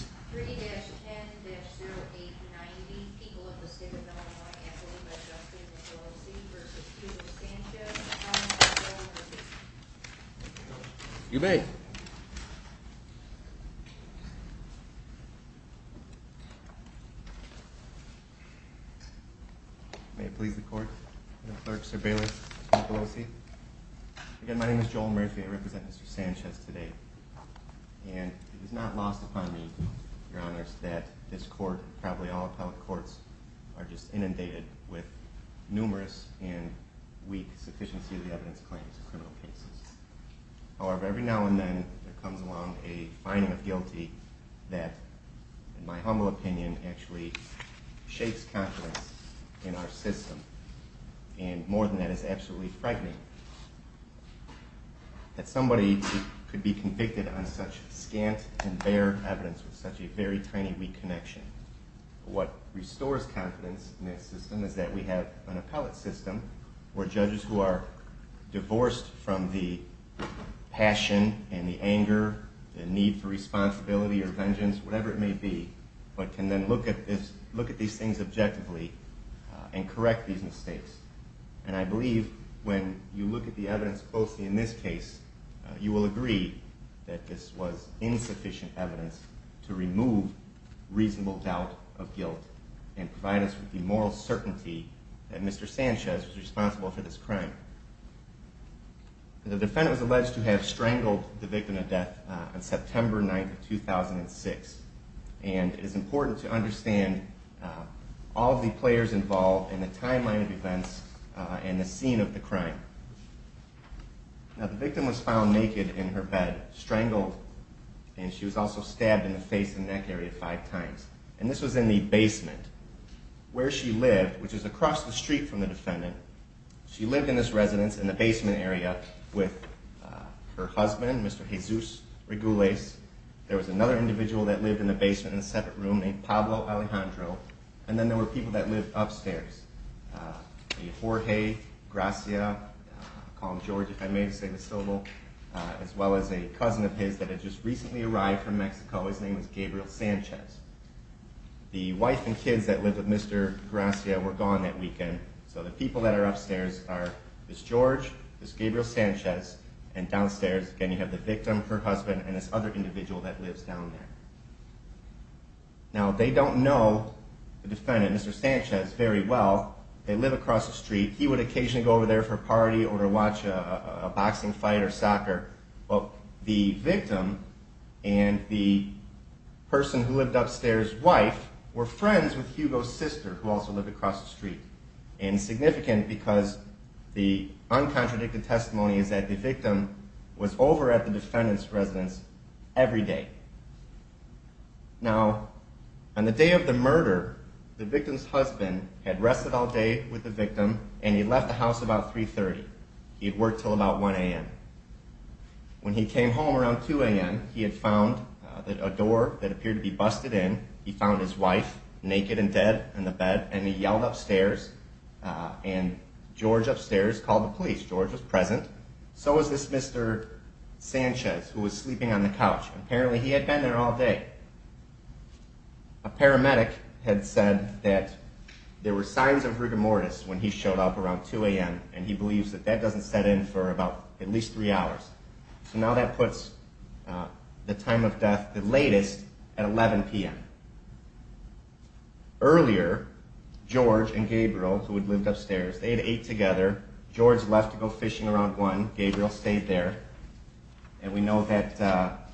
3-10-0890, people of the state of Illinois, Anthony V. Sanchez and Joel O.C. v. Peter Sanchez, in the comments of Joel and Murphy. Thank you, Coach. You may. May it please the Court, I'm Clerk Sir Bayless, with the people of O.C. Again, my name is Joel Murphy. I represent Mr. Sanchez today. And it is not lost upon me, Your Honors, that this Court, probably all appellate courts, are just inundated with numerous and weak sufficiency of the evidence claims in criminal cases. However, every now and then, there comes along a finding of guilty that, in my humble opinion, actually shakes confidence in our system. And more than that, it's absolutely frightening that somebody could be convicted on such scant and bare evidence with such a very tiny, weak connection. What restores confidence in this system is that we have an appellate system where judges who are divorced from the passion and the anger, the need for responsibility or vengeance, whatever it may be, but can then look at these things objectively and correct these mistakes. And I believe, when you look at the evidence closely in this case, you will agree that this was insufficient evidence to remove reasonable doubt of guilt and provide us with the moral certainty that Mr. Sanchez was responsible for this crime. The defendant was alleged to have strangled the victim of death on September 9, 2006. And it is important to understand all of the players involved and the timeline of events and the scene of the crime. Now, the victim was found naked in her bed, strangled, and she was also stabbed in the face and neck area five times. And this was in the basement, where she lived, which is across the street from the defendant. She lived in this residence in the basement area with her husband, Mr. Jesus Regules. There was another individual that lived in the basement in a separate room named Pablo Alejandro, and then there were people that lived upstairs, a Jorge Gracia, I'll call him George if I may to save the syllable, as well as a cousin of his that had just recently arrived from Mexico. His name was Gabriel Sanchez. The wife and kids that lived with Mr. Gracia were gone that weekend, so the people that are upstairs are Ms. George, Ms. Gabriel Sanchez, and downstairs, again, you have the victim, her husband, and this other individual that lives down there. Now, they don't know the defendant, Mr. Sanchez, very well. They live across the street. He would occasionally go over there for a party or to watch a boxing fight or soccer, but the victim and the person who lived upstairs, wife, were friends with Hugo's sister, who also lived across the street, and significant because the uncontradicted testimony is that the victim was over at the defendant's residence every day. Now, on the day of the murder, the victim's husband had rested all day with the victim, and he left the house about 3.30. He had worked till about 1 a.m. When he came home around 2 a.m., he had found a door that appeared to be busted in. He found his wife naked and dead in the bed, and he yelled upstairs, and George upstairs called the police. George was present. So was this Mr. Sanchez, who was sleeping on the couch. Apparently he had been there all day. A paramedic had said that there were signs of rigor mortis when he showed up around 2 a.m., and he believes that that doesn't set in for about at least three hours. So now that puts the time of death the latest at 11 p.m. Earlier, George and Gabriel, who had lived upstairs, they had ate together. George left to go fishing around 1. Gabriel stayed there, and we know that,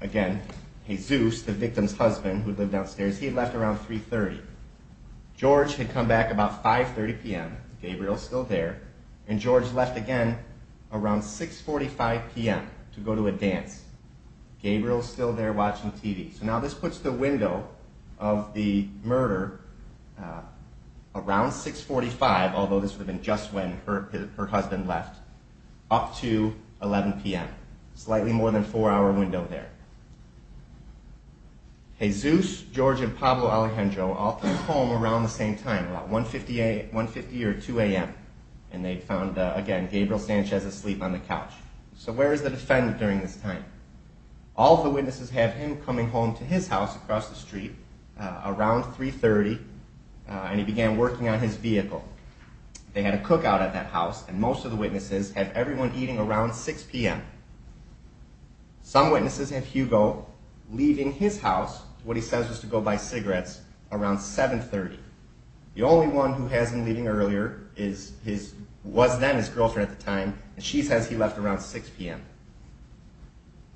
again, Jesus, the victim's husband, who had lived downstairs, he had left around 3.30. George had come back about 5.30 p.m. Gabriel's still there, and George left again around 6.45 p.m. to go to a dance. Gabriel's still there watching TV. So now this puts the window of the murder around 6.45, although this would have been just when her husband left, up to 11 p.m., slightly more than a four-hour window there. Jesus, George, and Pablo Alejandro all came home around the same time, about 1.50 or 2 a.m., and they found, again, Gabriel Sanchez asleep on the couch. So where is the defendant during this time? All of the witnesses have him coming home to his house across the street around 3.30, and he began working on his vehicle. They had a cookout at that house, and most of the witnesses have everyone eating around 6 p.m. Some witnesses have Hugo leaving his house, what he says was to go buy cigarettes, around 7.30. The only one who has him leaving earlier was then his girlfriend at the time, and she says he left around 6 p.m.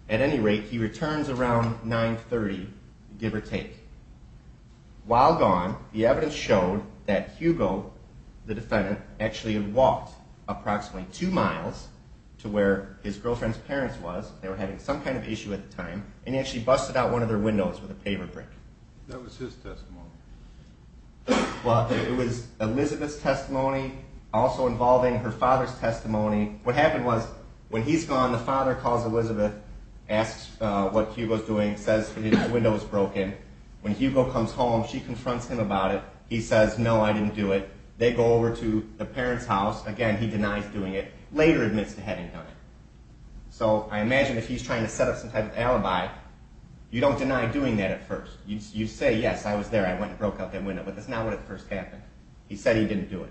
At any rate, he returns around 9.30, give or take. While gone, the evidence showed that Hugo, the defendant, actually had walked approximately two miles to where his girlfriend's parents was. They were having some kind of issue at the time, and he actually busted out one of their windows with a paver brick. That was his testimony. Well, it was Elizabeth's testimony, also involving her father's testimony. What happened was, when he's gone, the father calls Elizabeth, asks what Hugo's doing, says his window was broken. When Hugo comes home, she confronts him about it. He says, no, I didn't do it. They go over to the parents' house. Again, he denies doing it, later admits to having done it. So I imagine if he's trying to set up some kind of alibi, you don't deny doing that at first. You say, yes, I was there. I went and broke out that window, but that's not what at first happened. He said he didn't do it.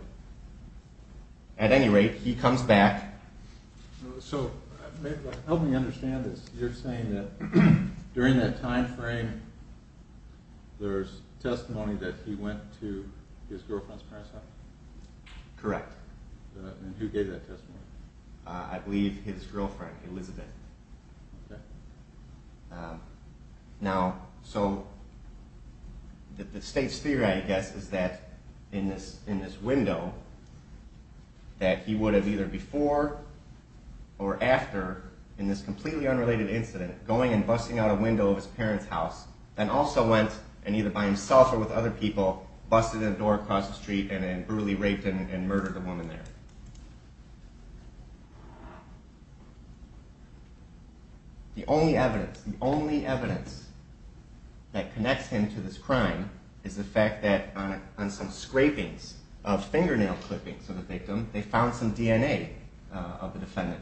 At any rate, he comes back. So help me understand this. You're saying that during that time frame, there's testimony that he went to his girlfriend's parents' house? Correct. And who gave that testimony? I believe his girlfriend, Elizabeth. Okay. Now, so the state's theory, I guess, is that in this window, that he would have either before or after, in this completely unrelated incident, going and busting out a window of his parents' house, and also went, and either by himself or with other people, busted in a door across the street and brutally raped and murdered the woman there. The only evidence, the only evidence that connects him to this crime is the fact that on some scrapings of fingernail clippings of the victim, they found some DNA of the defendant.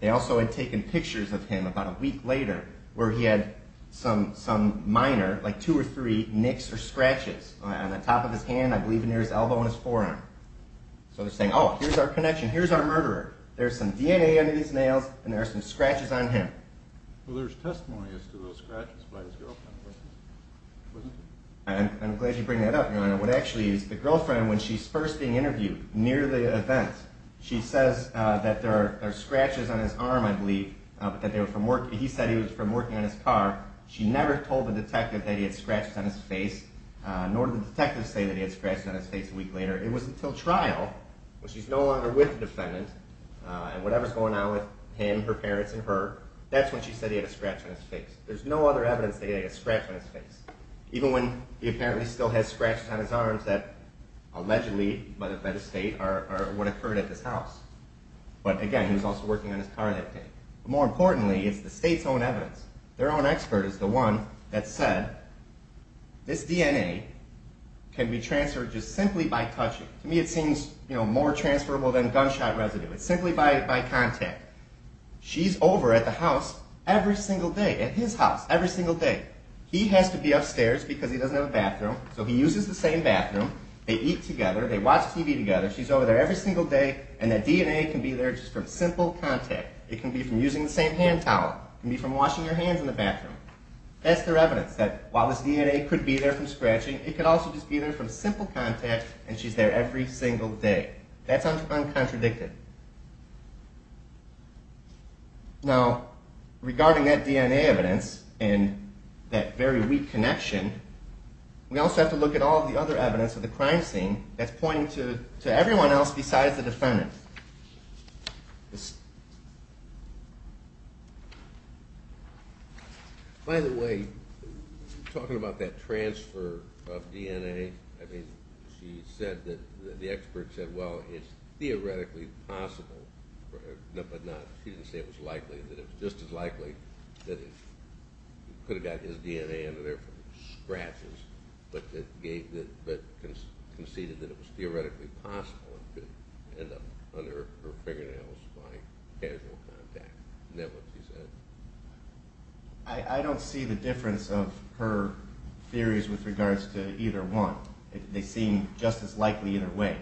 They also had taken pictures of him about a week later, where he had some minor, like two or three, nicks or scratches on the top of his hand, I believe near his elbow and his forearm. So they're saying, oh, here's our connection. Here's our murderer. There's some DNA under these nails, and there are some scratches on him. Well, there's testimony as to those scratches by his girlfriend, wasn't there? I'm glad you bring that up, Your Honor. What actually is, the girlfriend, when she's first being interviewed, near the event, she says that there are scratches on his arm, I believe, but that they were from work. He said he was from working on his car. She never told the detective that he had scratches on his face, nor did the detective say that he had scratches on his face a week later. It was until trial, when she's no longer with the defendant, and whatever's going on with him, her parents, and her, that's when she said he had a scratch on his face. There's no other evidence that he had a scratch on his face, even when he apparently still has scratches on his arms that allegedly, by the state, would have occurred at this house. But again, he was also working on his car that day. More importantly, it's the state's own evidence. Their own expert is the one that said, this DNA can be transferred just simply by touching. To me, it seems more transferable than gunshot residue. It's simply by contact. She's over at the house every single day, at his house, every single day. He has to be upstairs because he doesn't have a bathroom, so he uses the same bathroom. They eat together. They watch TV together. She's over there every single day, and that DNA can be there just from simple contact. It can be from using the same hand towel. It can be from washing your hands in the bathroom. That's their evidence, that while this DNA could be there from scratching, it could also just be there from simple contact, and she's there every single day. That's uncontradicted. Now, regarding that DNA evidence and that very weak connection, we also have to look at all the other evidence of the crime scene that's pointing to everyone else besides the defendant. Yes. By the way, talking about that transfer of DNA, I mean, she said that the expert said, well, it's theoretically possible, but not. She didn't say it was likely, that it was just as likely that he could have got his DNA under there from scratches, but conceded that it was theoretically possible that that one could end up under her fingernails by casual contact. And that's what she said. I don't see the difference of her theories with regards to either one. They seem just as likely either way.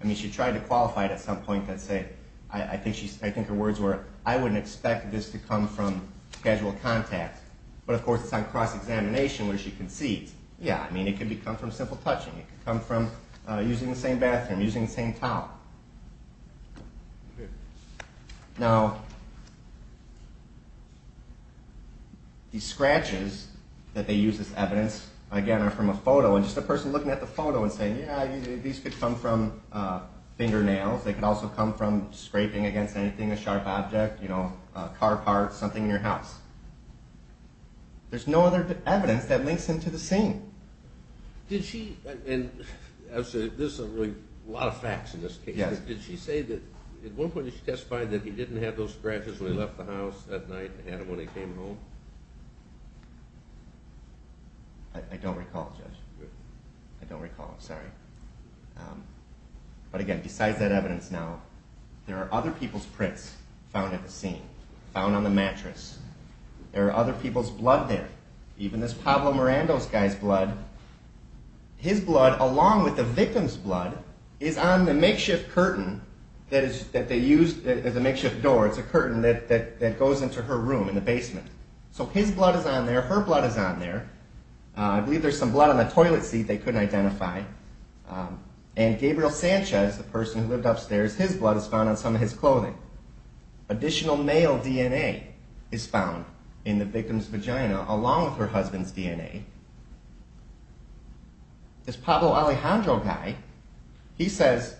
I mean, she tried to qualify it at some point that said, I think her words were, I wouldn't expect this to come from casual contact, but, of course, it's on cross-examination where she concedes. Yeah, I mean, it could come from simple touching. It could come from using the same bathroom, using the same towel. Now, the scratches that they use as evidence, again, are from a photo, and just the person looking at the photo and saying, yeah, these could come from fingernails. They could also come from scraping against anything, a sharp object, you know, a car part, something in your house. There's no other evidence that links them to the scene. Did she, and this is really a lot of facts in this case. Did she say that at one point she testified that he didn't have those scratches when he left the house that night and had them when he came home? I don't recall, Judge. I don't recall, sorry. But, again, besides that evidence now, there are other people's prints found at the scene, found on the mattress. There are other people's blood there. Even this Pablo Miranda's guy's blood, his blood, along with the victim's blood, is on the makeshift curtain that they used as a makeshift door. It's a curtain that goes into her room in the basement. So his blood is on there. Her blood is on there. I believe there's some blood on the toilet seat they couldn't identify. And Gabriel Sanchez, the person who lived upstairs, his blood is found on some of his clothing. Additional male DNA is found in the victim's vagina, along with her husband's DNA. This Pablo Alejandro guy, he says,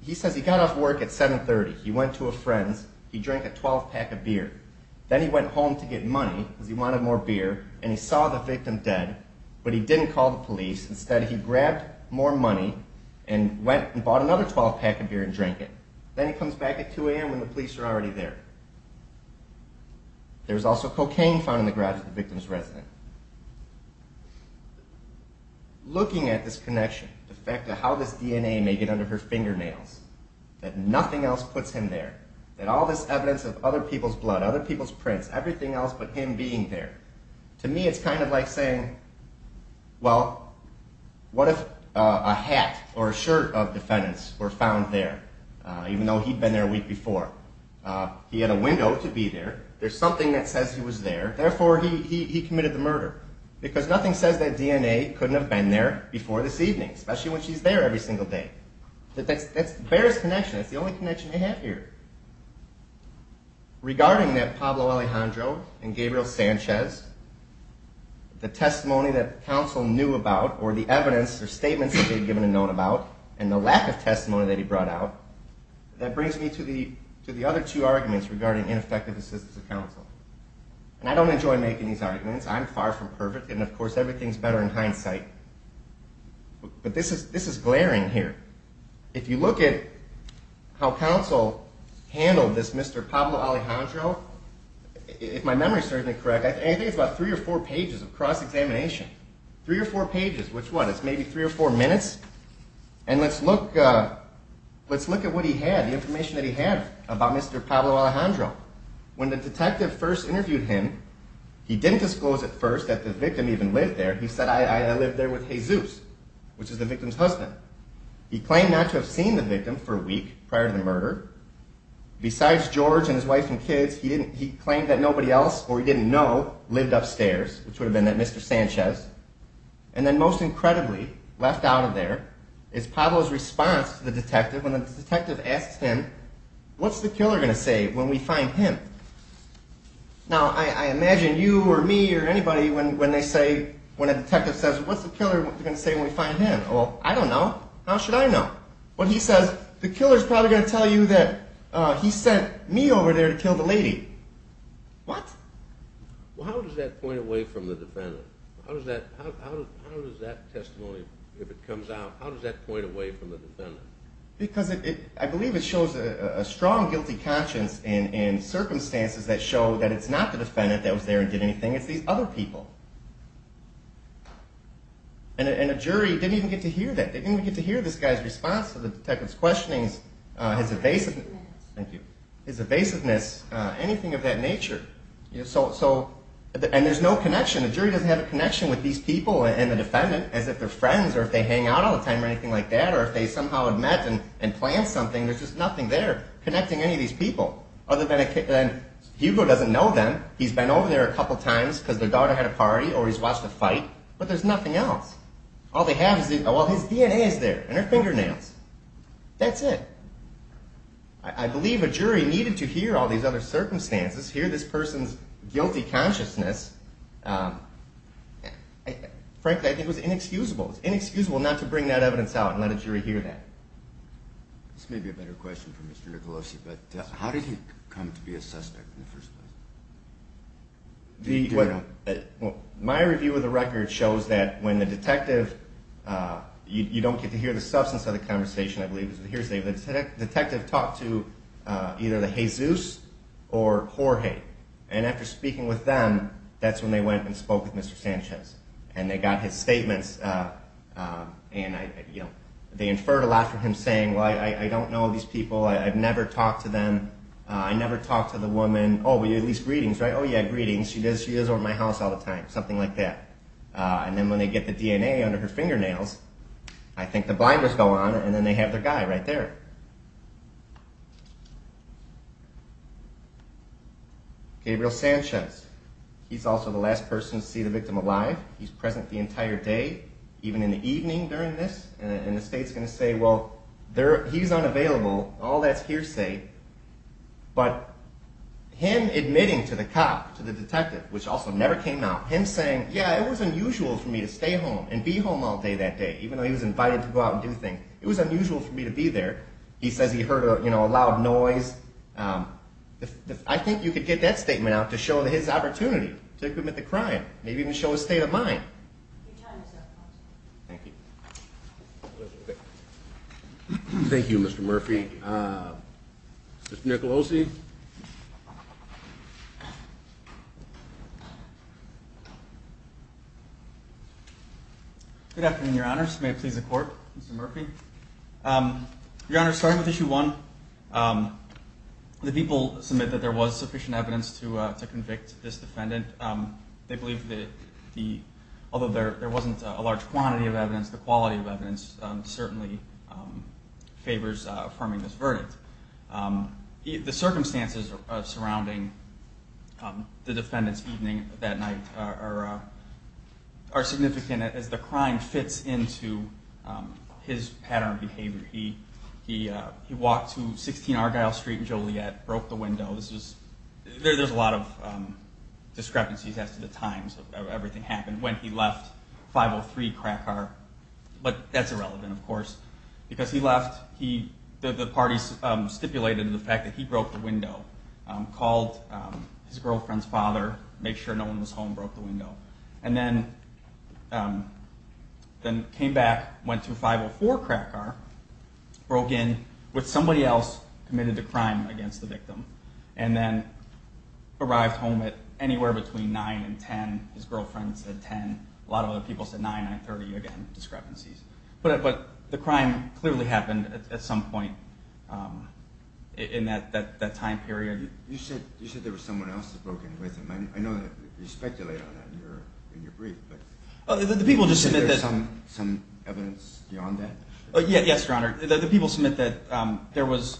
he says he got off work at 7.30. He went to a friend's. He drank a 12-pack of beer. Then he went home to get money because he wanted more beer, and he saw the victim dead, but he didn't call the police. Instead, he grabbed more money and went and bought another 12-pack of beer and drank it. Then he comes back at 2 a.m. when the police are already there. There's also cocaine found in the garage of the victim's resident. Looking at this connection, the fact that how this DNA may get under her fingernails, that nothing else puts him there, that all this evidence of other people's blood, other people's prints, everything else but him being there, to me it's kind of like saying, well, what if a hat or a shirt of defendants were found there, even though he'd been there a week before? He had a window to be there. There's something that says he was there. Therefore, he committed the murder because nothing says that DNA couldn't have been there before this evening, especially when she's there every single day. That bears connection. That's the only connection they have here. Regarding that Pablo Alejandro and Gabriel Sanchez, the testimony that the counsel knew about or the evidence or statements that they had given and known about, and the lack of testimony that he brought out, that brings me to the other two arguments regarding ineffective assistance of counsel. I don't enjoy making these arguments. I'm far from perfect, and, of course, everything's better in hindsight. But this is glaring here. If you look at how counsel handled this Mr. Pablo Alejandro, if my memory serves me correct, I think it's about three or four pages of cross-examination. Three or four pages. Which one? It's maybe three or four minutes? And let's look at what he had, the information that he had about Mr. Pablo Alejandro. When the detective first interviewed him, he didn't disclose at first that the victim even lived there. He said, I lived there with Jesus, which is the victim's husband. He claimed not to have seen the victim for a week prior to the murder. Besides George and his wife and kids, he claimed that nobody else or he didn't know lived upstairs, which would have been that Mr. Sanchez. And then, most incredibly, left out of there is Pablo's response to the detective when the detective asks him, what's the killer going to say when we find him? Now, I imagine you or me or anybody when they say, when a detective says, what's the killer going to say when we find him? Well, I don't know. How should I know? When he says, the killer's probably going to tell you that he sent me over there to kill the lady. What? Well, how does that point away from the defendant? How does that, how does that testimony, if it comes out, how does that point away from the defendant? Because it, I believe it shows a strong guilty conscience and circumstances that show that it's not the defendant that was there and did anything. It's these other people. And a jury didn't even get to hear that. They didn't even get to hear this guy's response to the detective's questionings, his evasiveness. Thank you. His evasiveness, anything of that nature. So, and there's no connection. A jury doesn't have a connection with these people and the defendant as if they're friends or if they hang out all the time or anything like that or if they somehow had met and planned something. There's just nothing there connecting any of these people other than, Hugo doesn't know them. He's been over there a couple of times because their daughter had a party or he's watched a fight, but there's nothing else. All they have is, well, his DNA is there and her fingernails. That's it. I believe a jury needed to hear all these other circumstances, hear this person's guilty consciousness. Frankly, I think it was inexcusable. It's inexcusable not to bring that evidence out and let a jury hear that. This may be a better question for Mr. Nicolosi, but how did he come to be a suspect in the first place? My review of the record shows that when the detective, you don't get to hear the substance of the conversation, I believe, the detective talked to either the Jesus or Jorge, and after speaking with them, that's when they went and spoke with Mr. Sanchez and they got his statements. They inferred a lot from him saying, well, I don't know these people. I've never talked to them. I never talked to the woman. Oh, but you had these greetings, right? Oh, yeah, greetings. She goes over to my house all the time, something like that. And then when they get the DNA under her fingernails, I think the blinders go on and then they have their guy right there. Gabriel Sanchez. He's also the last person to see the victim alive. He's present the entire day, even in the evening during this, and the state's going to say, well, he's unavailable. All that's hearsay. But him admitting to the cop, to the detective, which also never came out, him saying, yeah, it was unusual for me to stay home and be home all day that day, even though he was invited to go out and do things. It was unusual for me to be there. He says he heard a loud noise. I think you could get that statement out to show his opportunity to commit the crime, maybe even show his state of mind. Thank you, Mr. Murphy. Mr. Nicolosi. Good afternoon, Your Honors. May it please the Court, Mr. Murphy. Your Honors, starting with Issue 1, the people submit that there was sufficient evidence to convict this defendant. They believe that the, although there wasn't a large quantity of evidence, the quality of evidence certainly favors affirming this verdict. The circumstances surrounding Mr. Murphy's death and the defendant's evening that night are significant as the crime fits into his pattern of behavior. He walked to 16 Argyle Street in Joliet, broke the window. There's a lot of discrepancies as to the times of everything that happened. When he left 503 Crackar, of course, because he left, the parties stipulated the fact that he broke the window, called his girlfriend's father, made sure no one was home, broke the window, and then came back, went to 504 Crackar, broke in with somebody else, committed a crime against the victim, and then arrived home at anywhere between 9 and 10. His girlfriend said 10. A lot of other people said 9, 930, again, discrepancies. But the crime clearly happened at some point in that time period. You said there was someone else that broke in with him. I know that you speculate on that in your brief, but... The people just said that... Is there some evidence beyond that? Yes, Your Honor. The people submit that there was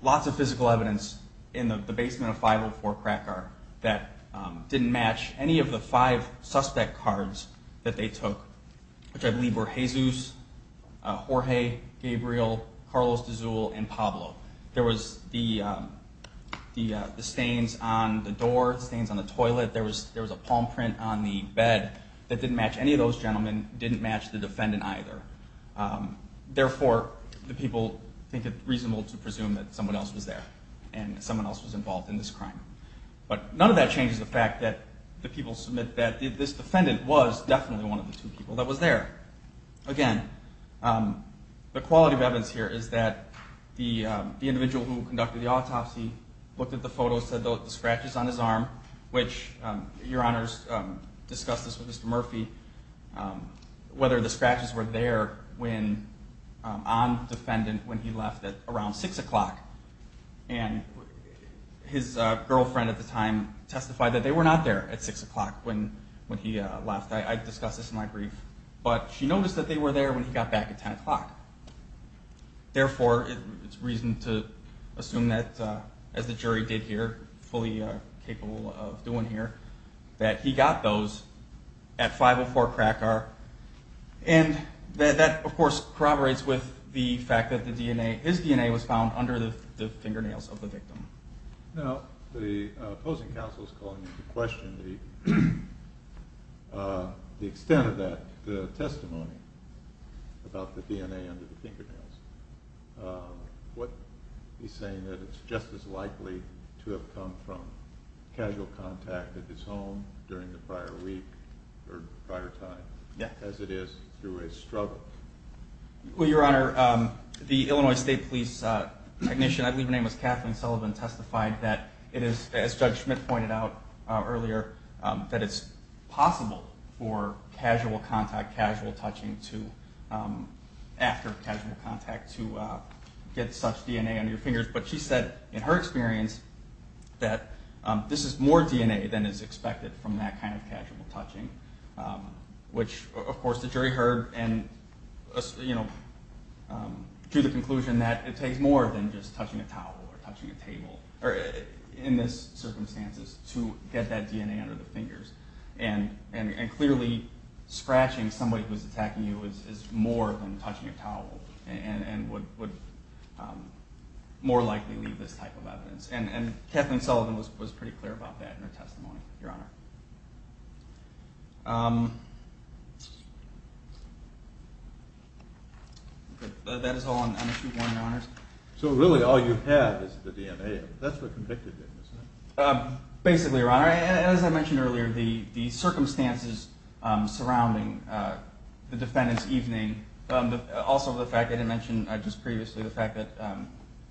lots of physical evidence in the basement of 504 Crackar that didn't match any of the five suspect cards that they took, which I believe were Jesus, Jorge, Gabriel, Carlos de Zuul, and Pablo. There was the stains on the door, the stains on the toilet, there was a palm print on the bed that didn't match any of those gentlemen, didn't match the defendant either. Therefore, the people think it reasonable to presume that someone else was there and someone else was involved in this crime. But none of that changes the fact that the people submit that this defendant was definitely one of the two people that was there. Again, the quality of evidence here is that the individual who conducted the autopsy looked at the photos, said that the scratches on his arm, which Your Honor's discussed this with Mr. Murphy, whether the scratches were there on the defendant when he left at around 6 o'clock. And his girlfriend at the time testified that they were not there at 6 o'clock when he left. I discussed this in my brief. But she noticed that they were there when he got back at 10 o'clock. Therefore, it's reasonable to assume that as the jury did here, fully capable of doing here, that he got those at 5 o'clock and that, of course, corroborates with the fact that his DNA was found under the fingernails of the victim. Now, the opposing counsel is calling into question the extent of that, the testimony about the DNA under the fingernails. He's saying that it's just as likely to have come from casual contact at his home during the prior week or prior time as it is through a struggle. Well, I believe her name was Kathleen Sullivan, testified that it is, as Judge Schmidt pointed out earlier, that the DNA was found under the fingernails of the victim and that it's possible for casual contact, casual touching after casual contact to get such DNA under your fingers, but she said in her experience that this is more DNA than is expected from that kind of casual touching, which, of course, the jury heard and, you know, drew the conclusion that it takes more than just touching a towel or touching a table in this circumstances to get that DNA under the fingers and clearly scratching somebody who was attacking you is more than touching a towel and would more likely leave this type of evidence and Kathleen Sullivan was pretty clear about that in her testimony, Your Honor. That is all on issue one, Your Honors. So really all you have is the DNA. That's what convicted did, isn't it? Basically, Your Honor, as I mentioned earlier, the circumstances surrounding the defendant's evening, also the fact that I mentioned just previously the fact that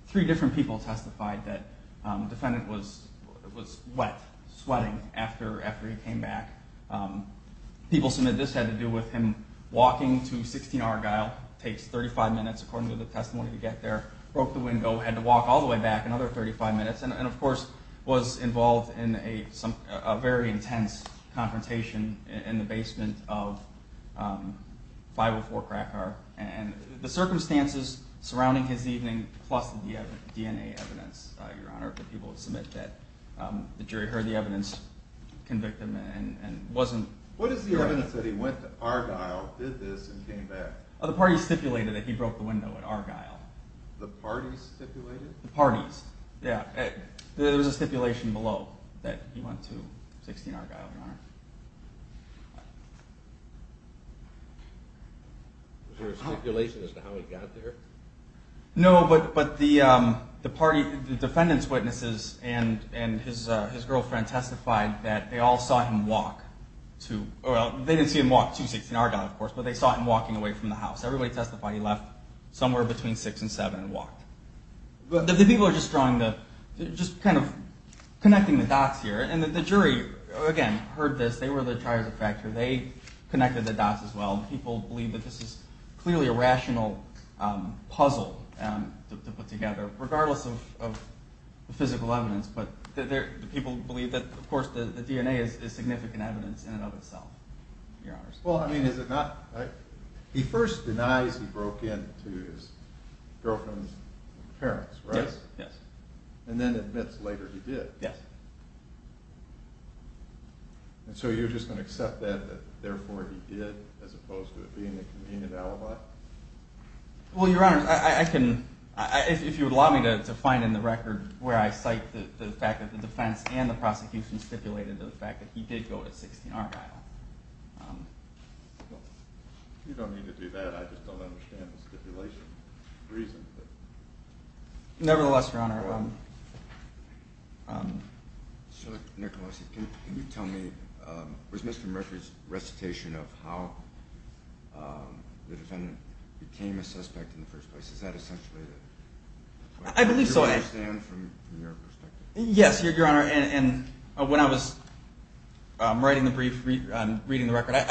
three different people testified that the defendant was wet, sweating, after he came back. People said that this had to do with him walking to 16 Argyle, takes 35 minutes according to the testimony to get there, broke the window, had to walk all the way back another 35 minutes and of course was involved in a very intense confrontation in the basement of 504 Cracker and the circumstances surrounding his evening, plus the DNA evidence, Your Honor, that people submit that the jury heard the evidence convict him and wasn't sure. What is the evidence that he went to Argyle, did this, and came back? The parties stipulated that he broke the window at Argyle. The parties stipulated? The parties, yeah. There was a stipulation below that he went to 16 Argyle, Your Honor. Was there a stipulation as to how he got there? No, but the party, the defendant's witnesses and his girlfriend testified that they all saw him walk to, they didn't see him walk to 16 Argyle, of course, but they saw him walking away from the house. Everybody testified he left somewhere between six and seven and walked. The people are just drawing the, just kind of connecting the dots here, and the jury, again, heard this, they were the trier of the factor, they connected the dots as well, and people believe that this is clearly a rational puzzle case. I can, if you would allow me to find in the record where I cite the fact that the defense and the prosecution stipulated the fact that he did go to 16 Argyle. You don't need to do that, I just don't understand the stipulation reason. Nevertheless, Your Honor, I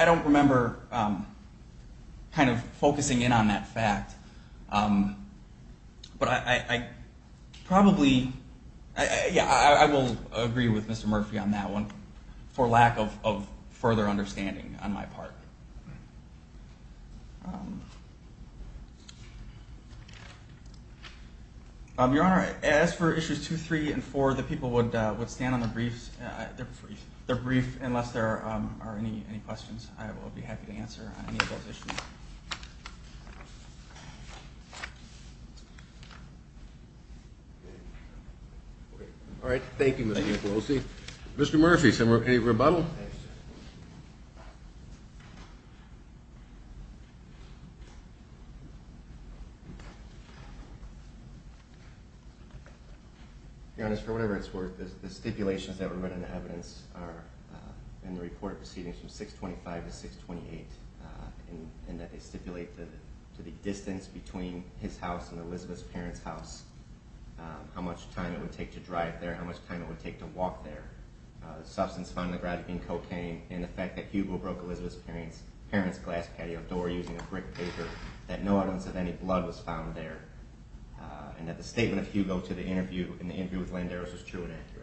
don't remember kind of focusing in stipulated that he did go to 16 Argyle. I don't remember the fact that the prosecution stipulated that he did go to 16 Argyle. remember the stipulation reason. I will agree with Mr. Murphy on that one for lack of further understanding on my part. Your Honor, as for issues 2, 3, and 4, the people would stand on their briefs, unless there are any questions. I will be happy to answer any of those issues. All right. Thank you, Mr. Pelosi. Mr. any rebuttal? Your Honor, for whatever it's worth, the stipulations that were included in the evidence are in the report proceedings from 625 to 628, and that they stipulate the distance between his house and Elizabeth's parents' house, how much time it would take to drive there, how much time it would take to walk there, the substance found in the garage was not in cocaine, and the fact that Hugo broke Elizabeth's parents' glass patio door using a brick paper, that no evidence of any blood was found there, and that the statement of Hugo in the interview with Landeros was true and accurate.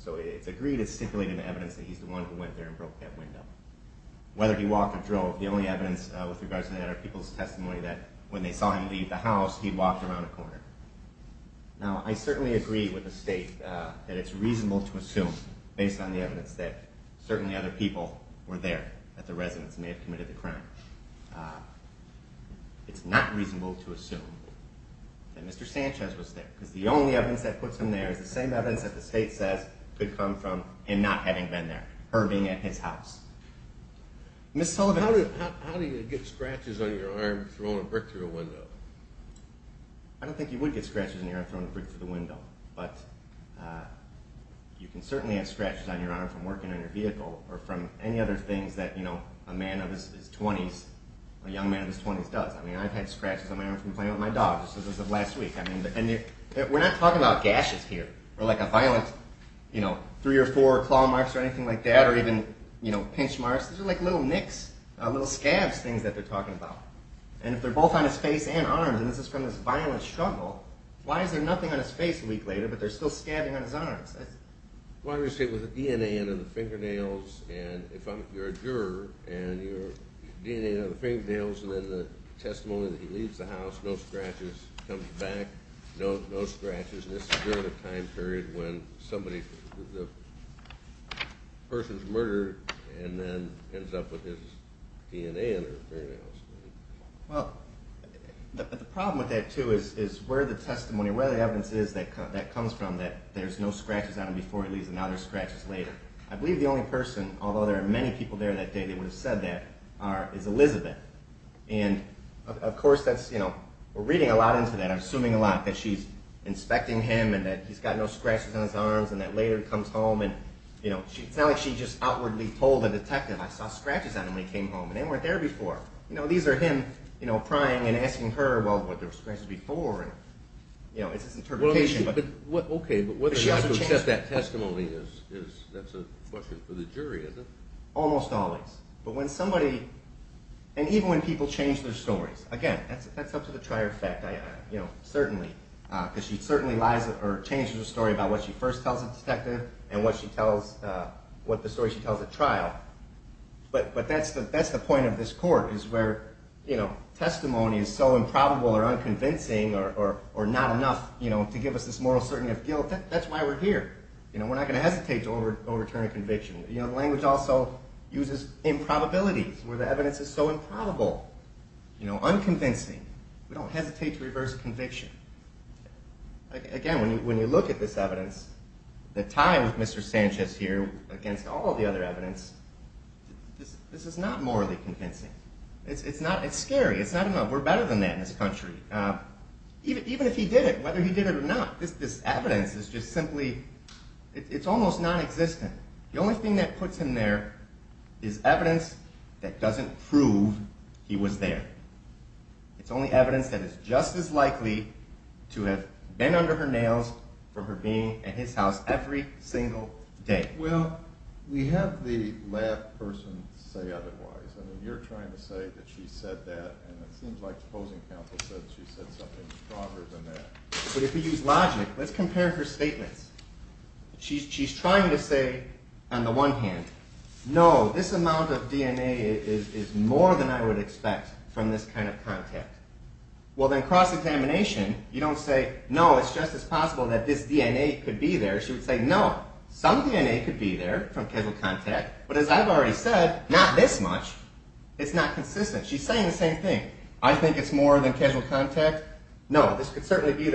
So it's agreed it's stipulated in the statute Hugo broke his glass patio door. Whether he walked or drove, the only evidence with regards to that are people's testimony that when they saw him leave the house, he walked around a corner. Now, I certainly agree with the State that it's true that Hugo broke his glass patio door, the only evidence with regards to that is people's testimony that when they saw him leave the house, he walked around a corner. Now, the only evidence with regards to that is people's testimony that he there, and somehow Mr. Sanchez is the only one clean enough or in this violent struggle that he's not going to leave any evidence of him being there. None of this makes sense, and it's not proof beyond a reasonable doubt. It's not proof beyond a reasonable doubt. It's not proven by and it write to testimony with other people, if we don't have good evidence. So it is certainly not possible that something like this could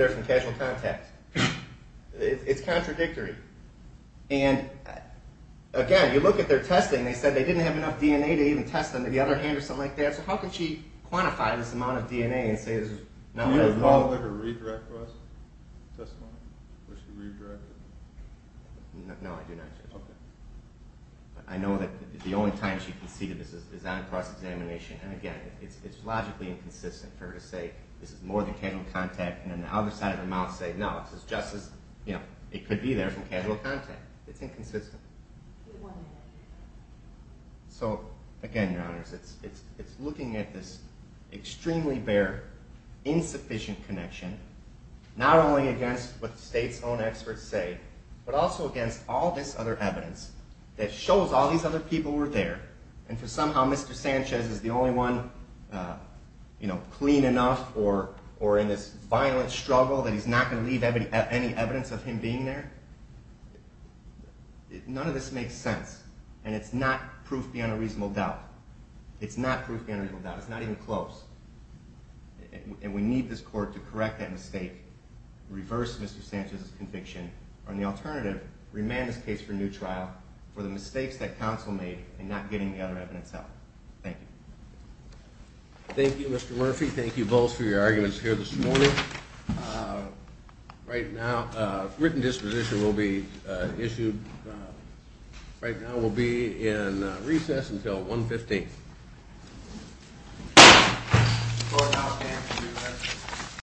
be